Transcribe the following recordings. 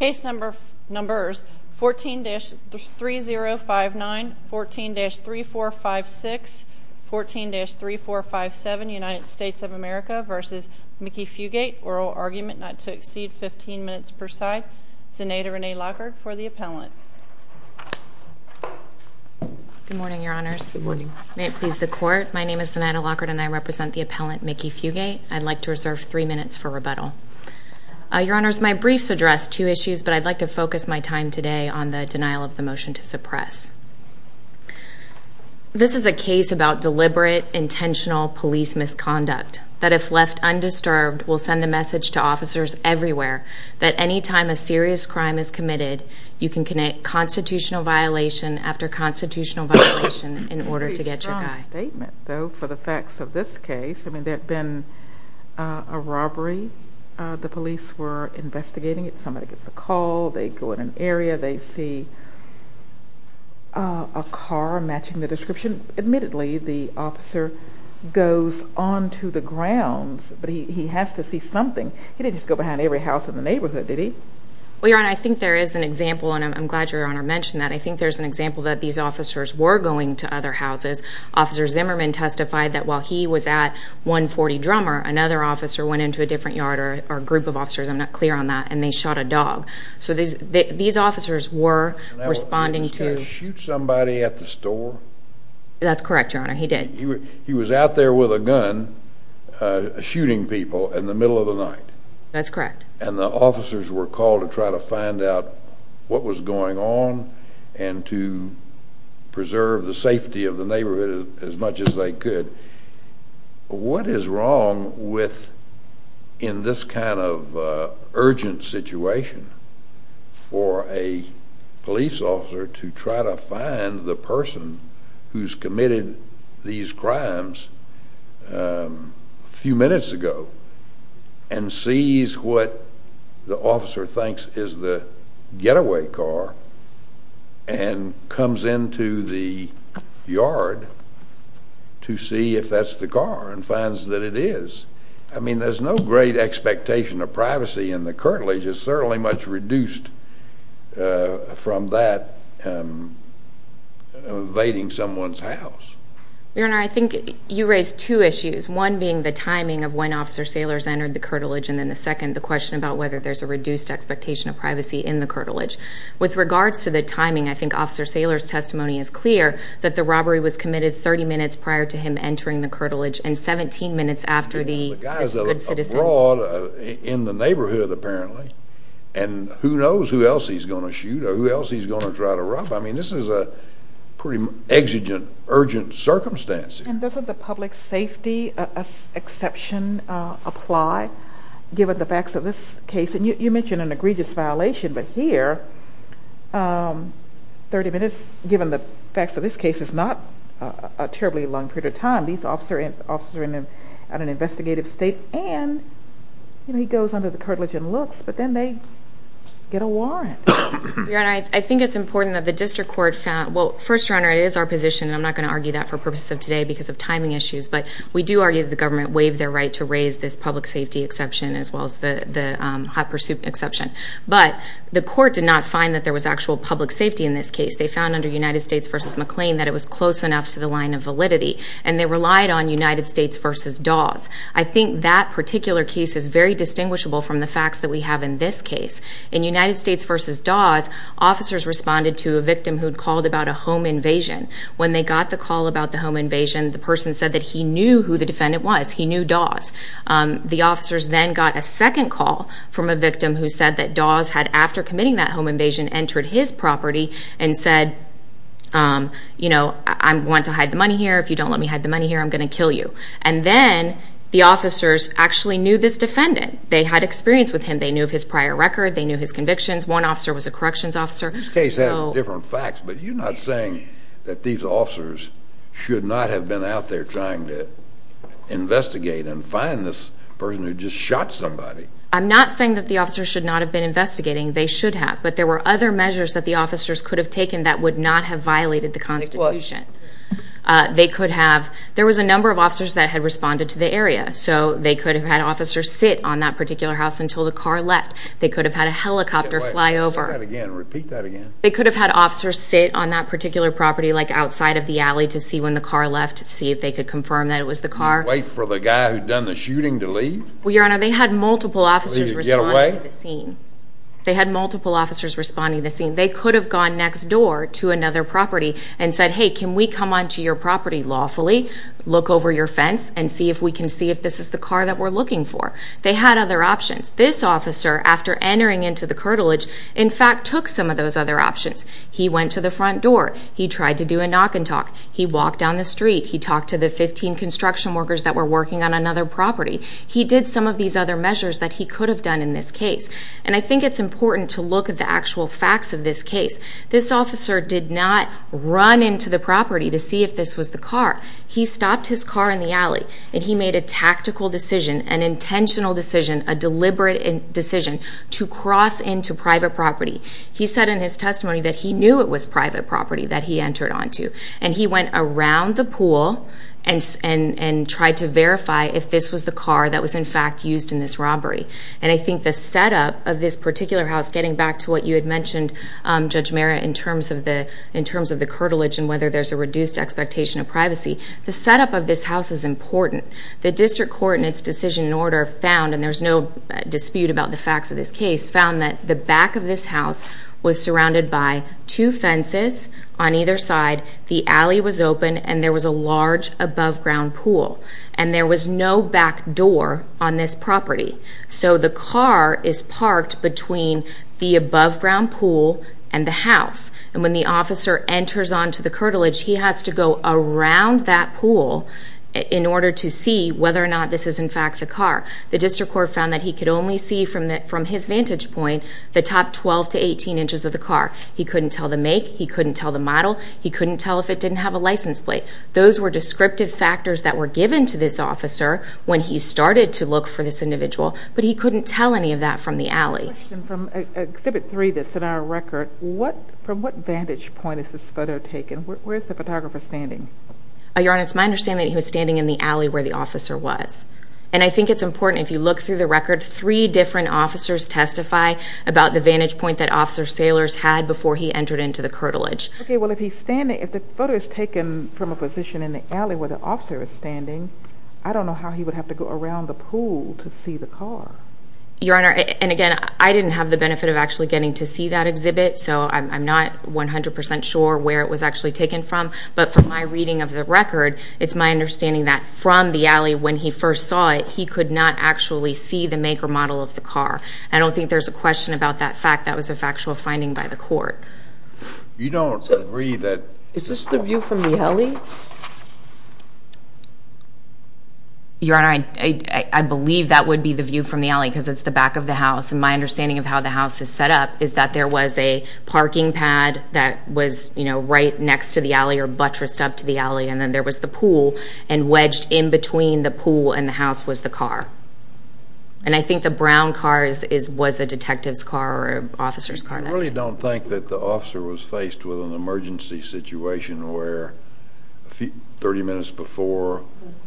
14-3059, 14-3456, 14-3457, United States of America v. Mickey Fugate, Oral Argument Not to Exceed 15 Minutes per Side, Zenaida Renee Lockard for the Appellant. Good morning, Your Honors. Good morning. May it please the Court, my name is Zenaida Lockard and I represent the Appellant Mickey Fugate. I'd like to reserve three minutes for rebuttal. Your Honors, my briefs address two issues, but I'd like to focus my time today on the denial of the motion to suppress. This is a case about deliberate, intentional police misconduct that if left undisturbed will send a message to officers everywhere that any time a serious crime is committed, you can commit constitutional violation after constitutional violation in order to get your guy. I'd like a statement, though, for the facts of this case. I mean, there'd been a robbery, the police were investigating it, somebody gets a call, they go in an area, they see a car matching the description. Admittedly, the officer goes on to the grounds, but he has to see something. He didn't just go behind every house in the neighborhood, did he? Well, Your Honor, I think there is an example, and I'm glad Your Honor mentioned that. I think there's an example that these officers were going to other houses. Officer Zimmerman testified that while he was at 140 Drummer, another officer went into a different yard, or a group of officers, I'm not clear on that, and they shot a dog. So these officers were responding to... Did he shoot somebody at the store? That's correct, Your Honor. He did. He was out there with a gun shooting people in the middle of the night? That's correct. And the officers were called to try to find out what was going on, and to preserve the safety of the neighborhood as much as they could. What is wrong with, in this kind of urgent situation, for a police officer to try to What the officer thinks is the getaway car, and comes into the yard to see if that's the car, and finds that it is. I mean, there's no great expectation of privacy in the curtilage. It's certainly much reduced from that evading someone's house. Your Honor, I think you raised two issues. One being the timing of when Officer Saylor's entered the curtilage, and then the second, the question about whether there's a reduced expectation of privacy in the curtilage. With regards to the timing, I think Officer Saylor's testimony is clear, that the robbery was committed 30 minutes prior to him entering the curtilage, and 17 minutes after the... The guy's abroad, in the neighborhood, apparently, and who knows who else he's going to shoot, or who else he's going to try to rob. I mean, this is a pretty exigent, urgent circumstance here. And doesn't the public safety exception apply, given the facts of this case? You mentioned an egregious violation, but here, 30 minutes, given the facts of this case, is not a terribly long period of time. These officers are in an investigative state, and he goes under the curtilage and looks, but then they get a warrant. Your Honor, I think it's important that the district court found... Well, first, Your Honor, it is our position, and I'm not going to argue that for purposes of today, because of timing issues, but we do argue that the government waived their right to raise this public safety exception, as well as the hot pursuit exception. But the court did not find that there was actual public safety in this case. They found, under United States v. McLean, that it was close enough to the line of validity, and they relied on United States v. Dawes. I think that particular case is very distinguishable from the facts that we have in this case. In United States v. Dawes, officers responded to a victim who'd called about a home invasion. When they got the call about the home invasion, the person said that he knew who the defendant was. He knew Dawes. The officers then got a second call from a victim who said that Dawes had, after committing that home invasion, entered his property and said, you know, I want to hide the money here. If you don't let me hide the money here, I'm going to kill you. And then the officers actually knew this defendant. They had experience with him. They knew of his prior record. They knew his convictions. One officer was a corrections officer. This case has different facts, but you're not saying that these officers should not have been out there trying to investigate and find this person who just shot somebody. I'm not saying that the officers should not have been investigating. They should have. But there were other measures that the officers could have taken that would not have violated the Constitution. They could have. There was a number of officers that had responded to the area. So they could have had officers sit on that particular house until the car left. They could have had a helicopter fly over. Repeat that again. Repeat that again. They could have had officers sit on that particular property, like outside of the alley, to see when the car left, to see if they could confirm that it was the car. Wait for the guy who'd done the shooting to leave? Well, Your Honor, they had multiple officers responding to the scene. They had multiple officers responding to the scene. They could have gone next door to another property and said, hey, can we come onto your property lawfully, look over your fence, and see if we can see if this is the car that we're looking for. They had other options. This officer, after entering into the curtilage, in fact took some of those other options. He went to the front door. He tried to do a knock and talk. He walked down the street. He talked to the 15 construction workers that were working on another property. He did some of these other measures that he could have done in this case. And I think it's important to look at the actual facts of this case. This officer did not run into the property to see if this was the car. He stopped his car in the alley, and he made a tactical decision, an intentional decision, a deliberate decision to cross into private property. He said in his testimony that he knew it was private property that he entered onto. And he went around the pool and tried to verify if this was the car that was in fact used in this robbery. And I think the setup of this particular house, getting back to what you had mentioned, Judge Mara, in terms of the curtilage and whether there's a reduced expectation of privacy, the setup of this house is important. The district court in its decision and order found, and there's no dispute about the facts of this case, found that the back of this house was surrounded by two fences on either side, the alley was open, and there was a large above-ground pool. And there was no back door on this property. So the car is parked between the above-ground pool and the house. And when the officer enters onto the curtilage, he has to go around that pool in order to see whether or not this is in fact the car. The district court found that he could only see from his vantage point the top 12 to 18 inches of the car. He couldn't tell the make. He couldn't tell the model. He couldn't tell if it didn't have a license plate. Those were descriptive factors that were given to this officer when he started to look for this individual. But he couldn't tell any of that from the alley. I have a question from Exhibit 3 that's in our record. From what vantage point is this photo taken? Where's the photographer standing? Your Honor, it's my understanding that he was standing in the alley where the officer was. And I think it's important, if you look through the record, three different officers testify about the vantage point that Officer Saylor's had before he entered into the curtilage. Okay, well, if he's standing, if the photo is taken from a position in the alley where the officer is standing, I don't know how he would have to go around the pool to see the car. Your Honor, and again, I didn't have the benefit of actually getting to see that exhibit. So I'm not 100% sure where it was actually taken from. But from my reading of the record, it's my understanding that from the alley when he first saw it, he could not actually see the make or model of the car. I don't think there's a question about that fact. That was a factual finding by the court. You don't agree that... Is this the view from the alley? Your Honor, I believe that would be the view from the alley, because it's the back of the house. And my understanding of how the house is set up is that there was a parking pad that was, you know, right next to the alley or buttressed up to the alley, and then there was the pool. And wedged in between the pool and the house was the car. And I think the brown car was a detective's car or an officer's car. I really don't think that the officer was faced with an emergency situation where 30 minutes before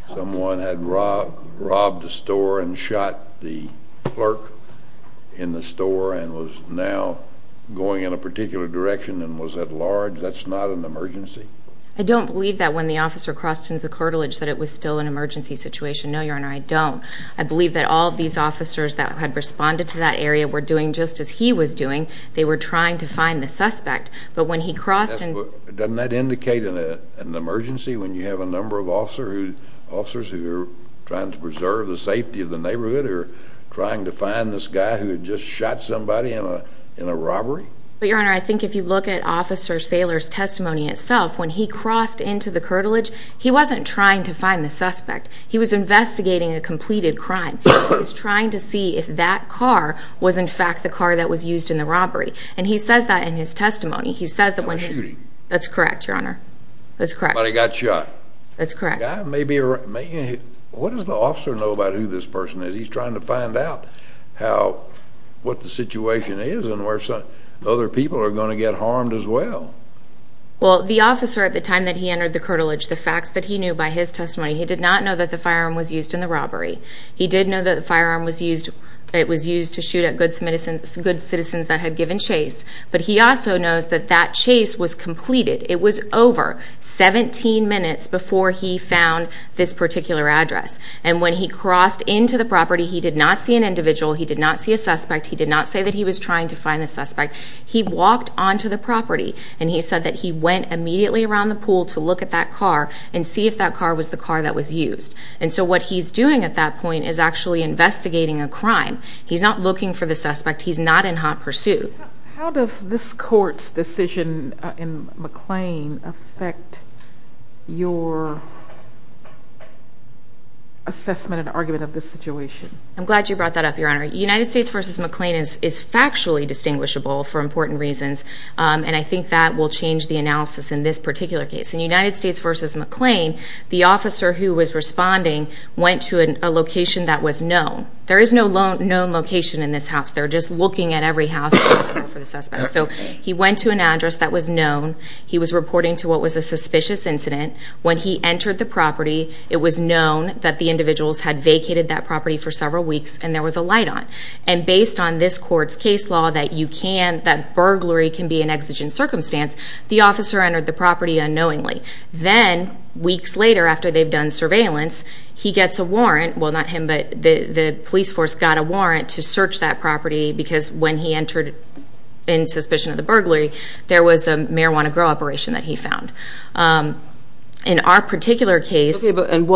someone had robbed a store and shot the clerk in the store and was now going in a particular direction and was at large. That's not an emergency. I don't believe that when the officer crossed into the cartilage that it was still an emergency situation. No, Your Honor, I don't. I believe that all of these officers that had responded to that area were doing just as he was doing. They were trying to find the suspect. But when he crossed and... Doesn't that indicate an emergency when you have a number of officers who are trying to preserve the safety of the neighborhood or trying to find this guy who had just shot somebody in a robbery? But, Your Honor, I think if you look at Officer Saylor's testimony itself, when he crossed into the cartilage, he wasn't trying to find the suspect. He was investigating a completed crime. He was trying to see if that car was in fact the car that was used in the robbery. And he says that in his testimony. He says that when... Not a shooting. That's correct, Your Honor. That's correct. Somebody got shot. That's correct. The guy may be... What does the officer know about who this person is? He's trying to find out how... What the situation is and where other people are going to get harmed as well. Well, the officer at the time that he entered the cartilage, the facts that he knew by his testimony, he did not know that the firearm was used in the robbery. He did know that the firearm was used... It was used to shoot at good citizens that had given chase. But he also knows that that chase was completed. It was over 17 minutes before he found this particular address. And when he crossed into the property, he did not see an individual. He did not see a suspect. He did not say that he was trying to find the suspect. He walked onto the property and he said that he went immediately around the pool to look at that car and see if that car was the car that was used. And so what he's doing at that point is actually investigating a crime. He's not looking for the suspect. He's not in hot pursuit. How does this court's decision in McLean affect your assessment and argument of this situation? I'm glad you brought that up, Your Honor. United States v. McLean is factually distinguishable for important reasons, and I think that will change the analysis in this particular case. In United States v. McLean, the officer who was responding went to a location that was known. There is no known location in this house. They're just looking at every house for the suspect. So he went to an address that was known. He was reporting to what was a suspicious incident. When he entered the property, it was known that the individuals had vacated that property for several weeks and there was a light on. And based on this court's case law that burglary can be an exigent circumstance, the officer entered the property unknowingly. Then, weeks later, after they've done surveillance, he gets a warrant, well not him, but the police force got a warrant to search that property because when he entered in suspicion of the burglary, there was a marijuana grow operation that he found. In our particular case... And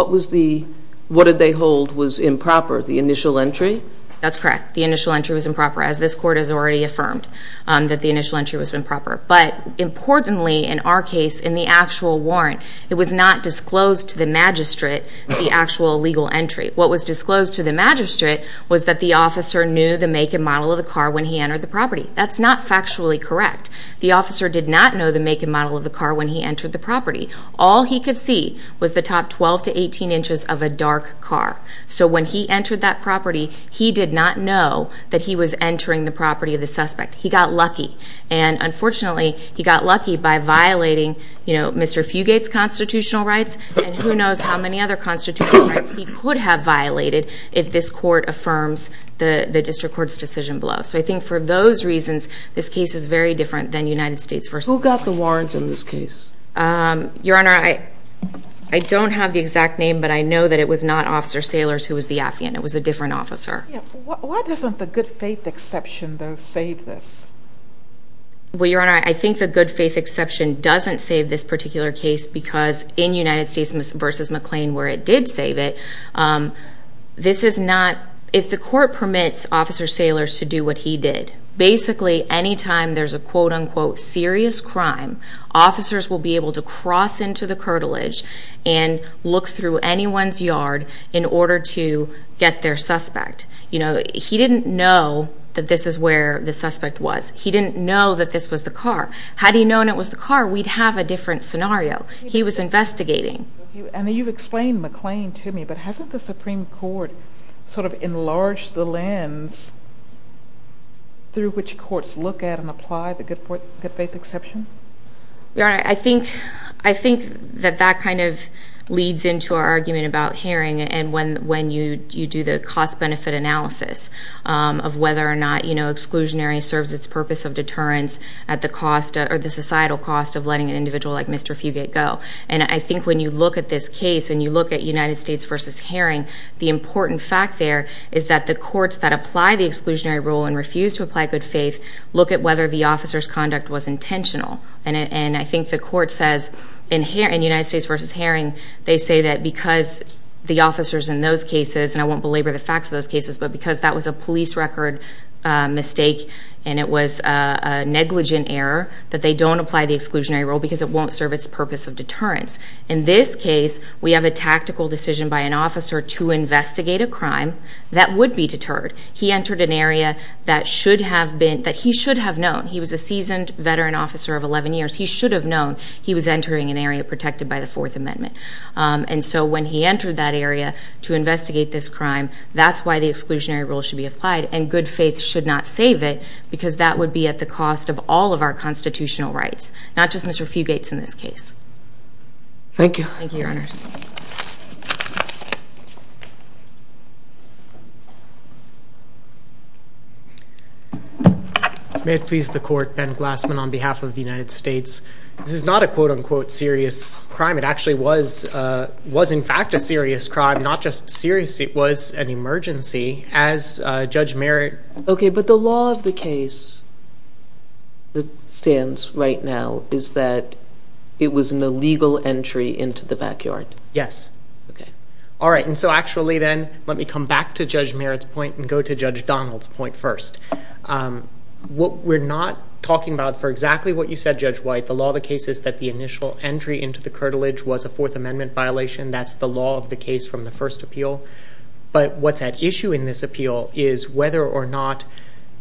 what did they hold was improper? The initial entry? That's correct. The initial entry was improper, as this court has already affirmed, that the initial entry was improper. But importantly, in our case, in the actual warrant, it was not disclosed to the magistrate the actual legal entry. What was disclosed to the magistrate was that the officer knew the make and model of the car when he entered the property. That's not factually correct. The officer did not know the make and model of the car when he entered the property. All he could see was the top 12 to 18 inches of a dark car. So when he entered that property, he did not know that he was entering the property of the suspect. He got lucky. And unfortunately, he got lucky by violating Mr. Fugate's constitutional rights and who violated if this court affirms the district court's decision below. So I think for those reasons, this case is very different than United States v. McLean. Who got the warrant in this case? Your Honor, I don't have the exact name, but I know that it was not Officer Saylors who was the affiant. It was a different officer. Yeah. Why doesn't the good faith exception, though, save this? Well, Your Honor, I think the good faith exception doesn't save this particular case because in United States v. McLean, where it did save it, this is not... If the court permits Officer Saylors to do what he did, basically anytime there's a quote unquote serious crime, officers will be able to cross into the curtilage and look through anyone's yard in order to get their suspect. He didn't know that this is where the suspect was. He didn't know that this was the car. Had he known it was the car, we'd have a different scenario. He was investigating. Okay. And you've explained McLean to me, but hasn't the Supreme Court sort of enlarged the lens through which courts look at and apply the good faith exception? Your Honor, I think that that kind of leads into our argument about hearing and when you do the cost-benefit analysis of whether or not exclusionary serves its purpose of deterrence at the societal cost of letting an individual like Mr. Fugate go. And I think when you look at this case and you look at United States v. Herring, the important fact there is that the courts that apply the exclusionary rule and refuse to apply good faith look at whether the officer's conduct was intentional. And I think the court says in United States v. Herring, they say that because the officers in those cases, and I won't belabor the facts of those cases, but because that was a police record mistake and it was a negligent error, that they don't apply the exclusionary rule because it won't serve its purpose of deterrence. In this case, we have a tactical decision by an officer to investigate a crime that would be deterred. He entered an area that he should have known. He was a seasoned veteran officer of 11 years. He should have known he was entering an area protected by the Fourth Amendment. And so when he entered that area to investigate this crime, that's why the exclusionary rule should be applied. And good faith should not save it because that would be at the cost of all of our constitutional rights, not just Mr. Fugate's in this case. Thank you. Thank you, Your Honors. May it please the Court, Ben Glassman on behalf of the United States. This is not a quote unquote serious crime. It actually was in fact a serious crime, not just serious. It was an emergency as Judge Merritt... Okay, but the law of the case that stands right now is that it was an illegal entry into the backyard. Yes. Okay. All right. And so actually then, let me come back to Judge Merritt's point and go to Judge Donald's point first. What we're not talking about for exactly what you said, Judge White, the law of the case is that the initial entry into the curtilage was a Fourth Amendment violation. That's the law of the case from the first appeal. But what's at issue in this appeal is whether or not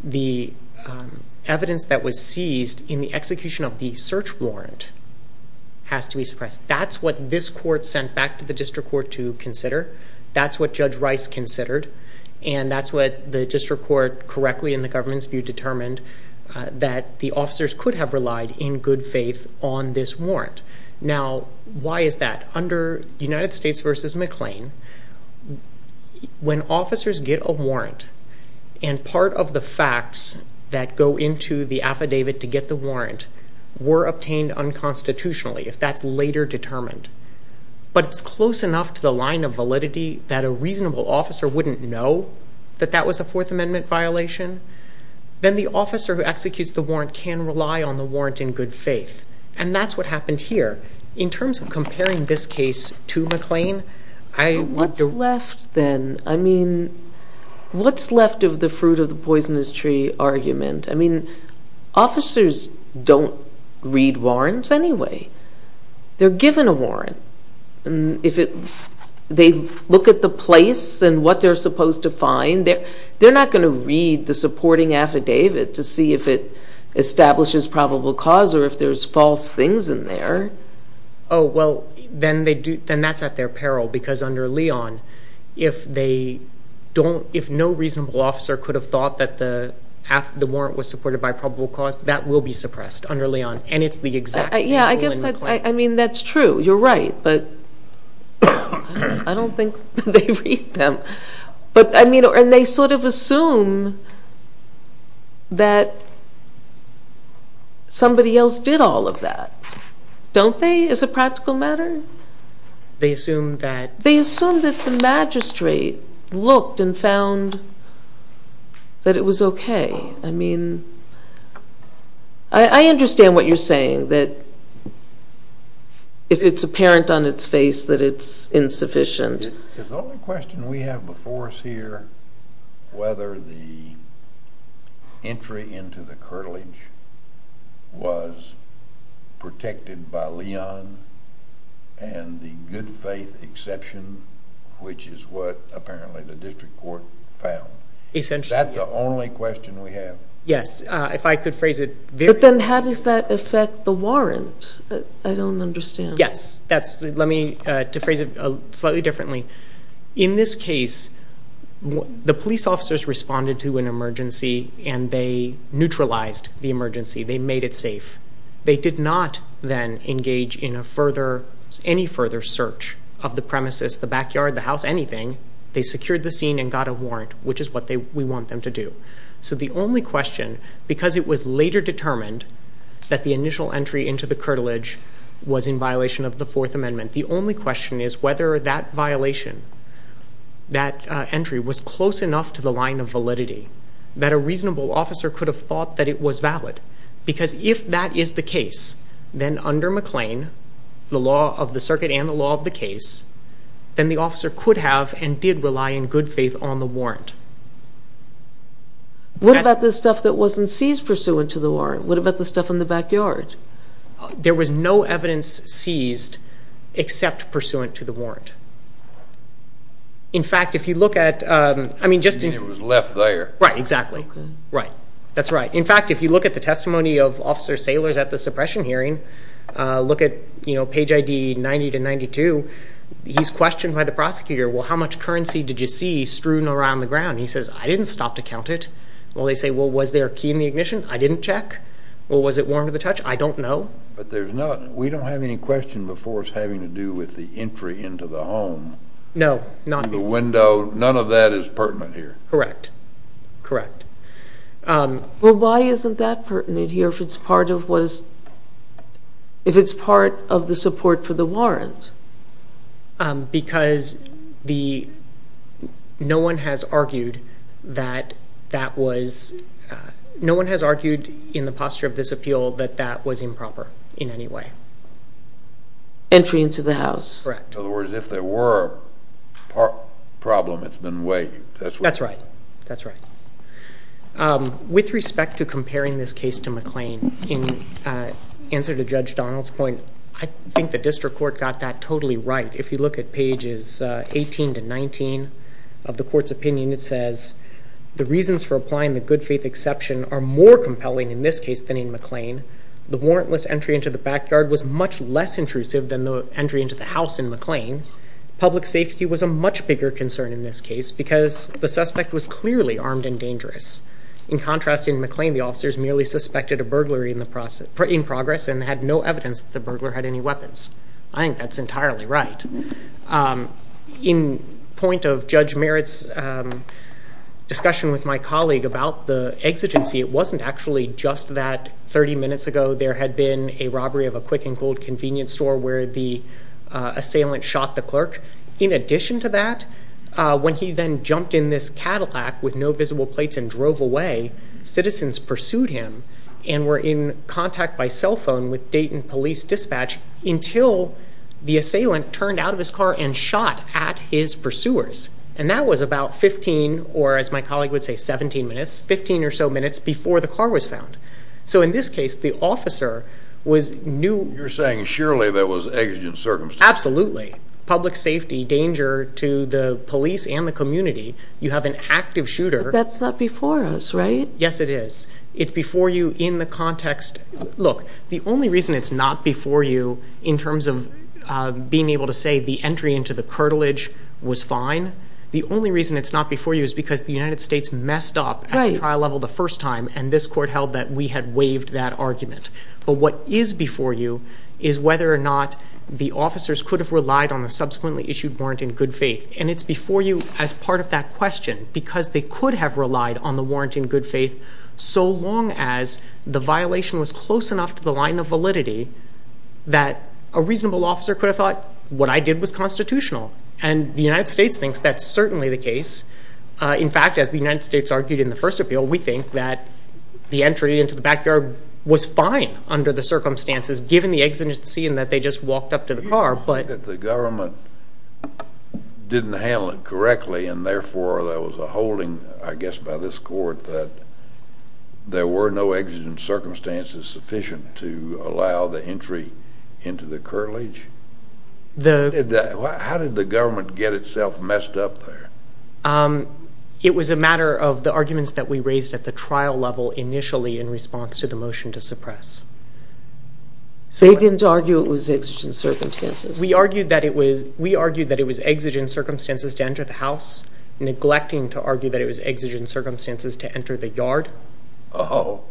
the evidence that was seized in the execution of the search warrant has to be suppressed. That's what this court sent back to the district court to consider. That's what Judge Rice considered. And that's what the district court correctly in the government's view determined that the officers could have relied in good faith on this warrant. Now why is that? Under United States v. McLean, when officers get a warrant and part of the facts that go into the affidavit to get the warrant were obtained unconstitutionally, if that's later determined, but it's close enough to the line of validity that a reasonable officer wouldn't know that that was a Fourth Amendment violation, then the officer who executes the warrant can rely on the warrant in good faith. And that's what happened here. In terms of comparing this case to McLean, I want to... What's left then? I mean, what's left of the fruit of the poisonous tree argument? I mean, officers don't read warrants anyway. They're given a warrant. If they look at the place and what they're supposed to find, they're not going to read the supporting affidavit to see if it establishes probable cause or if there's false things in there. Oh, well, then that's at their peril, because under Leon, if no reasonable officer could have thought that the warrant was supported by probable cause, that will be suppressed under Leon. And it's the exact same rule in McLean. Yeah. I guess that's true. You're right. But I don't think they read them. And they sort of assume that somebody else did all of that, don't they, as a practical matter? They assume that... They assume that the magistrate looked and found that it was okay. I mean, I understand what you're saying, that if it's apparent on its face that it's insufficient. The only question we have before us here, whether the entry into the curtilage was protected by Leon and the good faith exception, which is what apparently the district court found. Essentially, yes. Is that the only question we have? Yes. If I could phrase it very... But then how does that affect the warrant? I don't understand. Yes. Let me phrase it slightly differently. In this case, the police officers responded to an emergency and they neutralized the emergency. They made it safe. They did not then engage in any further search of the premises, the backyard, the house, anything. They secured the scene and got a warrant, which is what we want them to do. So the only question, because it was later determined that the initial entry into the Fourth Amendment, the only question is whether that violation, that entry was close enough to the line of validity that a reasonable officer could have thought that it was valid. Because if that is the case, then under McLean, the law of the circuit and the law of the case, then the officer could have and did rely in good faith on the warrant. What about the stuff that wasn't seized pursuant to the warrant? What about the stuff in the backyard? There was no evidence seized except pursuant to the warrant. In fact, if you look at, I mean, just in- It was left there. Right. Exactly. Right. That's right. In fact, if you look at the testimony of Officer Saylor's at the suppression hearing, look at page ID 90 to 92, he's questioned by the prosecutor, well, how much currency did you see strewn around the ground? He says, I didn't stop to count it. Well, they say, well, was there a key in the ignition? I didn't check. Well, was it worn to the touch? I don't know. But there's none. We don't have any question before us having to do with the entry into the home. No. Not me. The window. None of that is pertinent here. Correct. Correct. Well, why isn't that pertinent here if it's part of what is, if it's part of the support for the warrant? Because the, no one has argued that that was, no one has argued in the posture of this appeal that that was improper in any way. Entry into the house. Correct. In other words, if there were a problem, it's been weighed. That's right. That's right. With respect to comparing this case to McLean, in answer to Judge Donald's point, I think the district court got that totally right. If you look at pages 18 to 19 of the court's opinion, it says, the reasons for applying the good faith exception are more compelling in this case than in McLean. The warrantless entry into the backyard was much less intrusive than the entry into the house in McLean. Public safety was a much bigger concern in this case because the suspect was clearly armed and dangerous. In contrast, in McLean, the officers merely suspected a burglary in the process, in progress, and had no evidence that the burglar had any weapons. I think that's entirely right. In point of Judge Merritt's discussion with my colleague about the exigency, it wasn't actually just that 30 minutes ago there had been a robbery of a quick and cold convenience store where the assailant shot the clerk. In addition to that, when he then jumped in this Cadillac with no visible plates and drove away, citizens pursued him and were in contact by cell phone with Dayton Police Dispatch until the assailant turned out of his car and shot at his pursuers. And that was about 15, or as my colleague would say, 17 minutes, 15 or so minutes before the car was found. So in this case, the officer was new. You're saying surely there was exigent circumstances. Absolutely. Public safety, danger to the police and the community. You have an active shooter. That's not before us, right? Yes, it is. It's before you in the context. Look, the only reason it's not before you in terms of being able to say the entry into the cartilage was fine, the only reason it's not before you is because the United States messed up at the trial level the first time and this court held that we had waived that argument. But what is before you is whether or not the officers could have relied on the subsequently issued warrant in good faith. And it's before you as part of that question because they could have relied on the warrant in good faith so long as the violation was close enough to the line of validity that a reasonable officer could have thought what I did was constitutional. And the United States thinks that's certainly the case. In fact, as the United States argued in the first appeal, we think that the entry into the backyard was fine under the circumstances given the exigency and that they just walked up to the car. You don't think that the government didn't handle it correctly and therefore there was a holding, I guess, by this court that there were no exigent circumstances sufficient to allow the entry into the cartilage? How did the government get itself messed up there? It was a matter of the arguments that we raised at the trial level initially in response to the motion to suppress. So you didn't argue it was exigent circumstances? We argued that it was exigent circumstances to enter the house, neglecting to argue that it was exigent circumstances to enter the yard. Oh.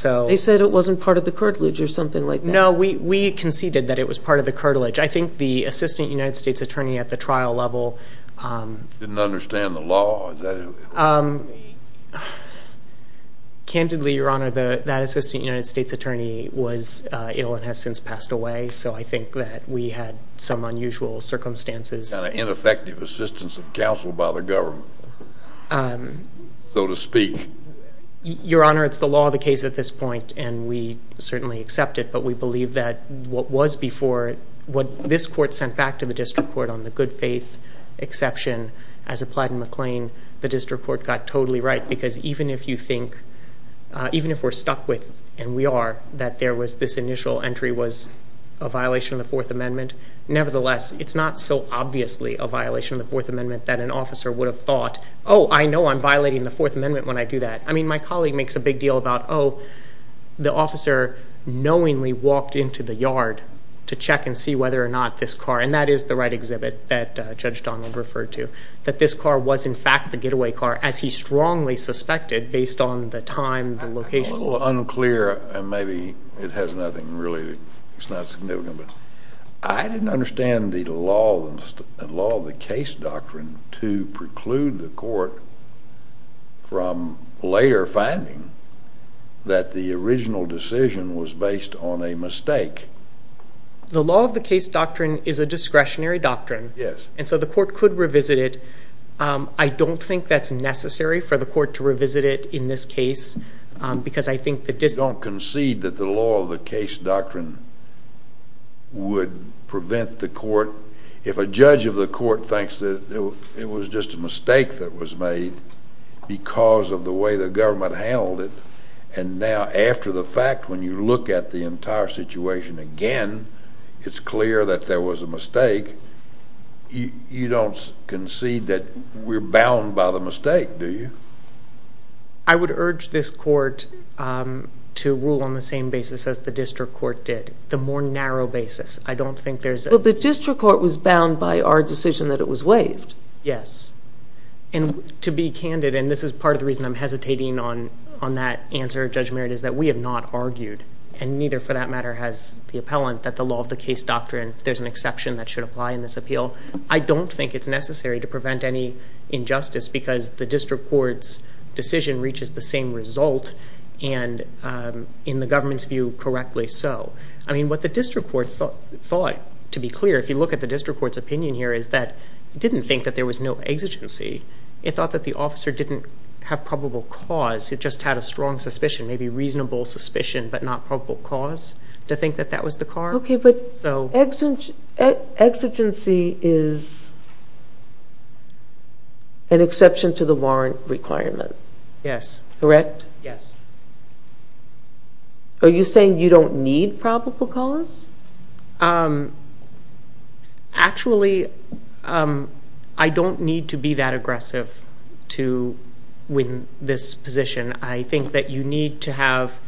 They said it wasn't part of the cartilage or something like that? No, we conceded that it was part of the cartilage. I think the assistant United States attorney at the trial level... Didn't understand the law. Is that what you mean? Candidly, Your Honor, that assistant United States attorney was ill and has since passed away. So I think that we had some unusual circumstances. Kind of ineffective assistance of counsel by the government, so to speak. Your Honor, it's the law of the case at this point and we certainly accept it. But we believe that what was before, what this court sent back to the district court on the good faith exception as applied in McLean, the district court got totally right. Because even if you think, even if we're stuck with, and we are, that there was this initial entry was a violation of the Fourth Amendment, nevertheless, it's not so obviously a violation of the Fourth Amendment that an officer would have thought, oh, I know I'm violating the Fourth Amendment when I do that. I mean, my colleague makes a big deal about, oh, the officer knowingly walked into the yard to check and see whether or not this car, and that is the right exhibit that Judge Donald referred to, that this car was in fact the getaway car, as he strongly suspected based on the time, the location. A little unclear, and maybe it has nothing really, it's not significant, but I didn't understand the law of the case doctrine to preclude the court from later finding that the original decision was based on a mistake. The law of the case doctrine is a discretionary doctrine, and so the court could revisit it. I don't think that's necessary for the court to revisit it in this case, because I think the district... You don't concede that the law of the case doctrine would prevent the court, if a judge of the court thinks that it was just a mistake that was made because of the way the government handled it, and now after the fact, when you look at the entire situation again, it's clear that there was a mistake. You don't concede that we're bound by the mistake, do you? I would urge this court to rule on the same basis as the district court did, the more narrow basis. I don't think there's... But the district court was bound by our decision that it was waived. Yes. To be candid, and this is part of the reason I'm hesitating on that answer, Judge Merritt, is that we have not argued, and neither for that matter has the appellant, that the law of the case doctrine, there's an exception that should apply in this appeal. I don't think it's necessary to prevent any injustice, because the district court's decision reaches the same result, and in the government's view, correctly so. What the district court thought, to be clear, if you look at the district court's opinion here is that it didn't think that there was no exigency. It thought that the officer didn't have probable cause. It just had a strong suspicion, maybe reasonable suspicion, but not probable cause to think that that was the cause. Okay, but exigency is an exception to the warrant requirement. Yes. Correct? Yes. Are you saying you don't need probable cause? Actually, I don't need to be that aggressive to win this position. I think that you need to have,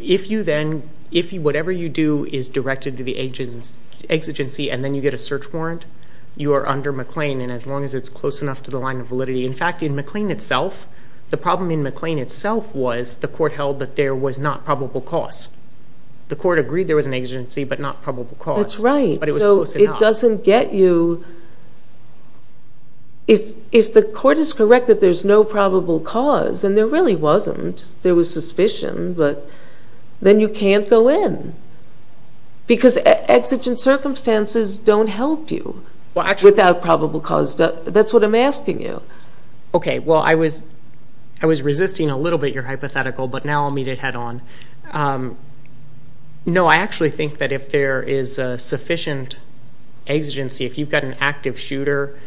if you then, if whatever you do is directed to the exigency, and then you get a search warrant, you are under McLean, and as long as it's close enough to the line of validity. In fact, in McLean itself, the problem in McLean itself was the court held that there was not probable cause. The court agreed there was an exigency, but not probable cause, but it was close enough. That's right. It doesn't get you, if the court is correct that there's no probable cause, and there really wasn't, there was suspicion, but then you can't go in, because exigent circumstances don't help you without probable cause. That's what I'm asking you. Okay. Well, I was resisting a little bit your hypothetical, but now I'll meet it head on. No, I actually think that if there is a sufficient exigency, if you've got an active shooter,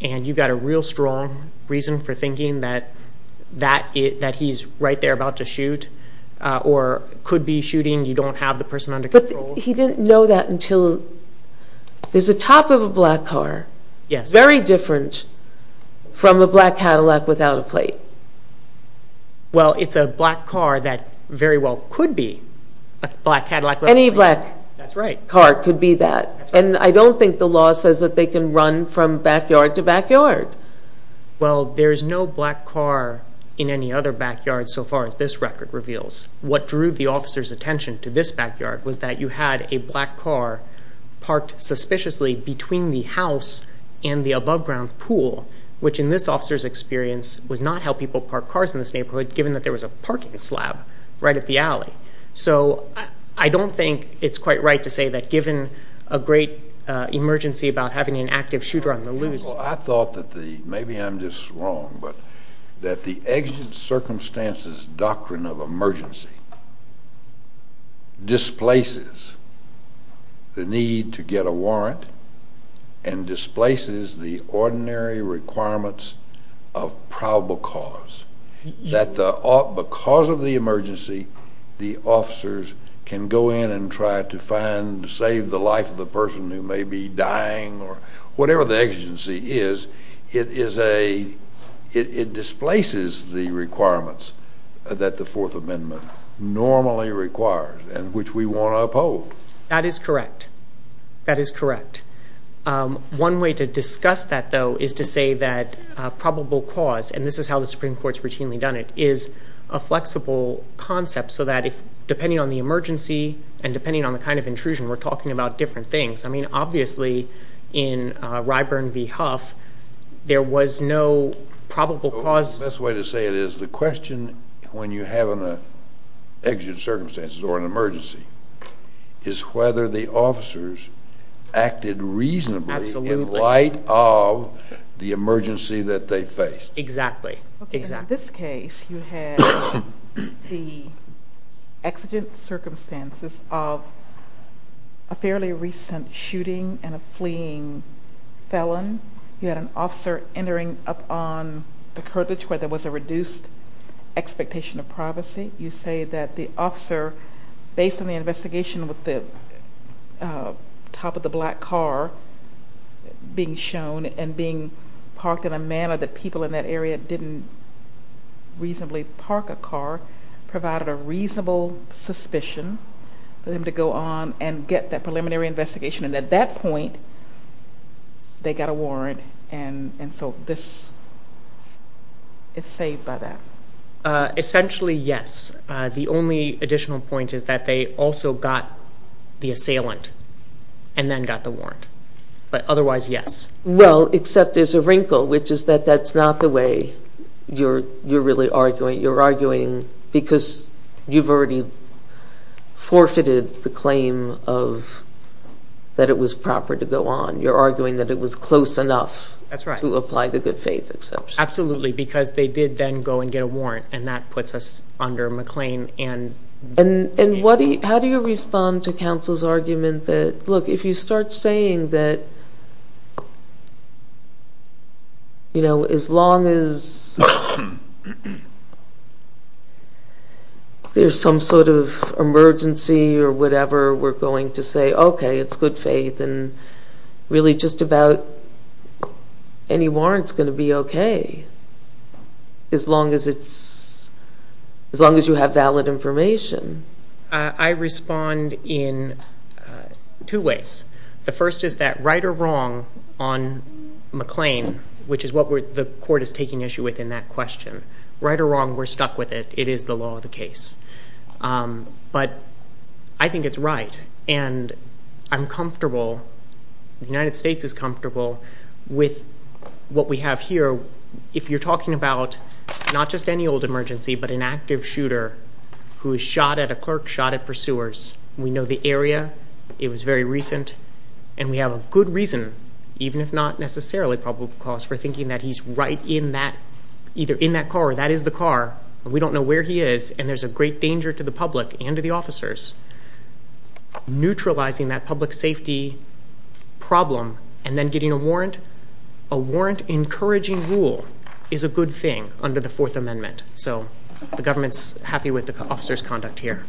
and you've got a real strong reason for thinking that he's right there about to shoot, or could be shooting, you don't have the person under control. He didn't know that until, there's a top of a black car, very different from a black Cadillac without a plate. Well, it's a black car that very well could be a black Cadillac without a plate. Any black car could be that, and I don't think the law says that they can run from backyard to backyard. Well, there is no black car in any other backyard so far as this record reveals. What drew the officer's attention to this backyard was that you had a black car parked suspiciously between the house and the above ground pool, which in this officer's experience was not how people park cars in this neighborhood given that there was a parking slab right at the alley. So I don't think it's quite right to say that given a great emergency about having an active shooter on the loose. Well, I thought that the, maybe I'm just wrong, but that the exit circumstances doctrine of probable cause, that the, because of the emergency, the officers can go in and try to find, save the life of the person who may be dying or whatever the exigency is, it is a, it displaces the requirements that the Fourth Amendment normally requires and which we want to uphold. That is correct. That is correct. One way to discuss that though is to say that probable cause, and this is how the Supreme Court's routinely done it, is a flexible concept so that if, depending on the emergency and depending on the kind of intrusion, we're talking about different things. I mean, obviously in Ryburn v. Huff, there was no probable cause. The best way to say it is the question when you have an exit circumstances or an emergency is whether the officers acted reasonably in light of the emergency that they faced. Exactly. Exactly. In this case, you had the exit circumstances of a fairly recent shooting and a fleeing felon. You had an officer entering up on the curtains where there was a reduced expectation of privacy. You say that the officer, based on the investigation with the top of the black car being shown and being parked in a manner that people in that area didn't reasonably park a car, provided a reasonable suspicion for them to go on and get that preliminary investigation. At that point, they got a warrant, and so this is saved by that. Essentially, yes. The only additional point is that they also got the assailant and then got the warrant, but otherwise, yes. Well, except there's a wrinkle, which is that that's not the way you're really arguing. You're arguing because you've already forfeited the claim of that it was proper to go on. You're arguing that it was close enough to apply the good faith exception. Absolutely. Because they did then go and get a warrant, and that puts us under McLean. How do you respond to counsel's argument that, look, if you start saying that as long as there's some sort of emergency or whatever, we're going to say, okay, it's good faith and really just about any warrant's going to be okay as long as you have valid information? I respond in two ways. The first is that right or wrong on McLean, which is what the court is taking issue with in that question, right or wrong, we're stuck with it. It is the law of the case. But I think it's right, and I'm comfortable, the United States is comfortable with what we have here. If you're talking about not just any old emergency, but an active shooter who was shot at a clerk, shot at pursuers, we know the area. It was very recent. And we have a good reason, even if not necessarily probable cause, for thinking that he's right in that, either in that car or that is the car. We don't know where he is, and there's a great danger to the public and to the officers. Neutralizing that public safety problem and then getting a warrant, a warrant encouraging rule is a good thing under the Fourth Amendment. So the government's happy with the officer's conduct here.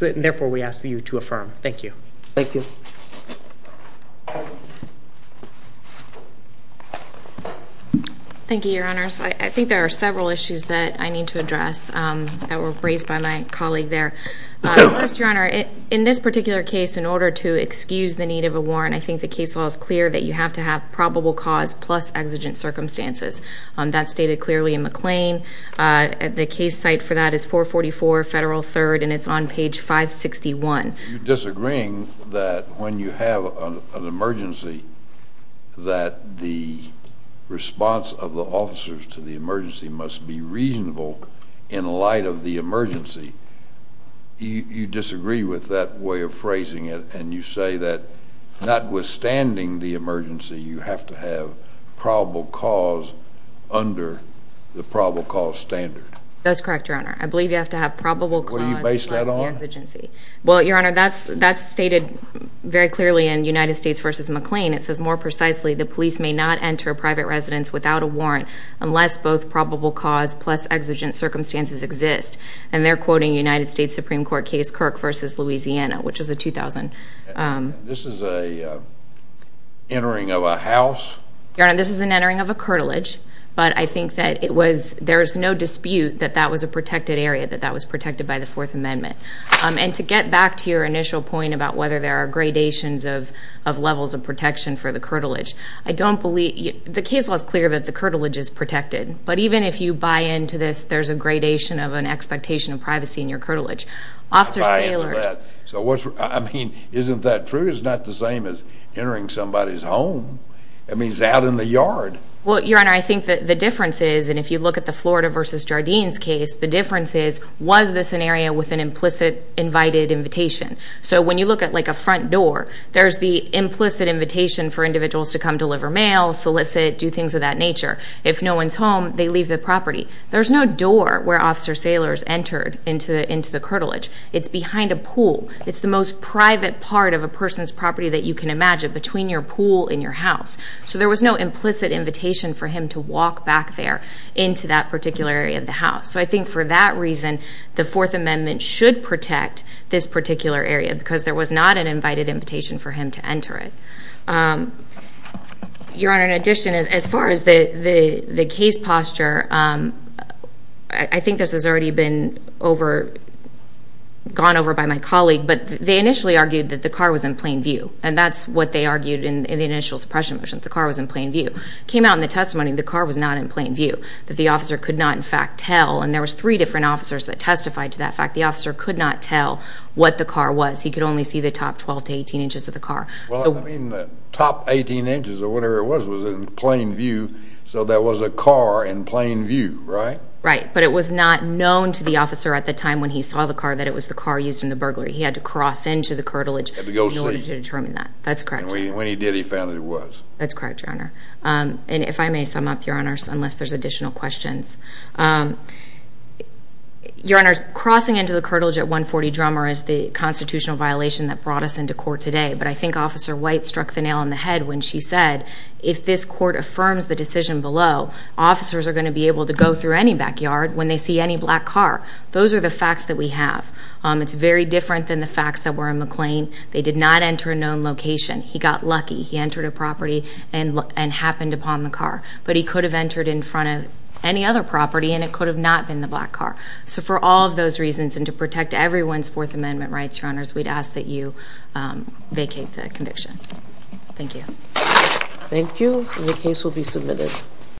Therefore, we ask you to affirm. Thank you. Thank you. Thank you, Your Honors. I think there are several issues that I need to address that were raised by my colleague there. First, Your Honor, in this particular case, in order to excuse the need of a warrant, I think the case law is clear that you have to have probable cause plus exigent circumstances. That's stated clearly in McLean. The case site for that is 444 Federal 3rd, and it's on page 561. You're disagreeing that when you have an emergency, that the response of the officers to the emergency must be reasonable in light of the emergency. You disagree with that way of phrasing it, and you say that notwithstanding the emergency, you have to have probable cause under the probable cause standard. That's correct, Your Honor. I believe you have to have probable cause plus the exigency. What do you base that on? Well, Your Honor, that's stated very clearly in United States v. McLean. It says more precisely, the police may not enter a private residence without a warrant unless both probable cause plus exigent circumstances exist. And they're quoting United States Supreme Court case Kirk v. Louisiana, which is the 2000. This is an entering of a house? Your Honor, this is an entering of a curtilage, but I think that there's no dispute that that was a protected area, that that was protected by the Fourth Amendment. And to get back to your initial point about whether there are gradations of levels of protection for the curtilage, I don't believe... The case law is clear that the curtilage is protected. But even if you buy into this, there's a gradation of an expectation of privacy in your curtilage. Officers and sailors... Buy into that. So what's... I mean, isn't that true? It's not the same as entering somebody's home. It means out in the yard. Well, Your Honor, I think that the difference is, and if you look at the Florida v. Jardine's case, the difference is, was this an area with an implicit invited invitation? So when you look at a front door, there's the implicit invitation for individuals to come deliver mail, solicit, do things of that nature. If no one's home, they leave the property. There's no door where officer sailors entered into the curtilage. It's behind a pool. It's the most private part of a person's property that you can imagine, between your pool and your house. So there was no implicit invitation for him to walk back there into that particular area of the house. So I think for that reason, the Fourth Amendment should protect this particular area, because there was not an invited invitation for him to enter it. Your Honor, in addition, as far as the case posture, I think this has already been over... Gone over by my colleague, but they initially argued that the car was in plain view. And that's what they argued in the initial suppression motion, that the car was in plain view. It came out in the testimony that the car was not in plain view, that the officer could not, in fact, tell. And there was three different officers that testified to that fact. The officer could not tell what the car was. He could only see the top 12 to 18 inches of the car. Well, I mean, the top 18 inches or whatever it was, was in plain view. So there was a car in plain view, right? Right. But it was not known to the officer at the time when he saw the car that it was the car used in the burglary. He had to cross into the curtilage in order to determine that. That's correct, Your Honor. And when he did, he found that it was. That's correct, Your Honor. And if I may sum up, Your Honor, unless there's additional questions, Your Honor, crossing into the curtilage at 140 Drummer is the constitutional violation that brought us into court today. But I think Officer White struck the nail on the head when she said, if this court affirms the decision below, officers are going to be able to go through any backyard when they see any black car. Those are the facts that we have. It's very different than the facts that were in McLean. They did not enter a known location. He got lucky. He entered a property and happened upon the car. But he could have entered in front of any other property, and it could have not been the black car. So for all of those reasons, and to protect everyone's Fourth Amendment rights, Your Honor, we'd ask that you vacate the conviction. Thank you. Thank you. And the case will be submitted.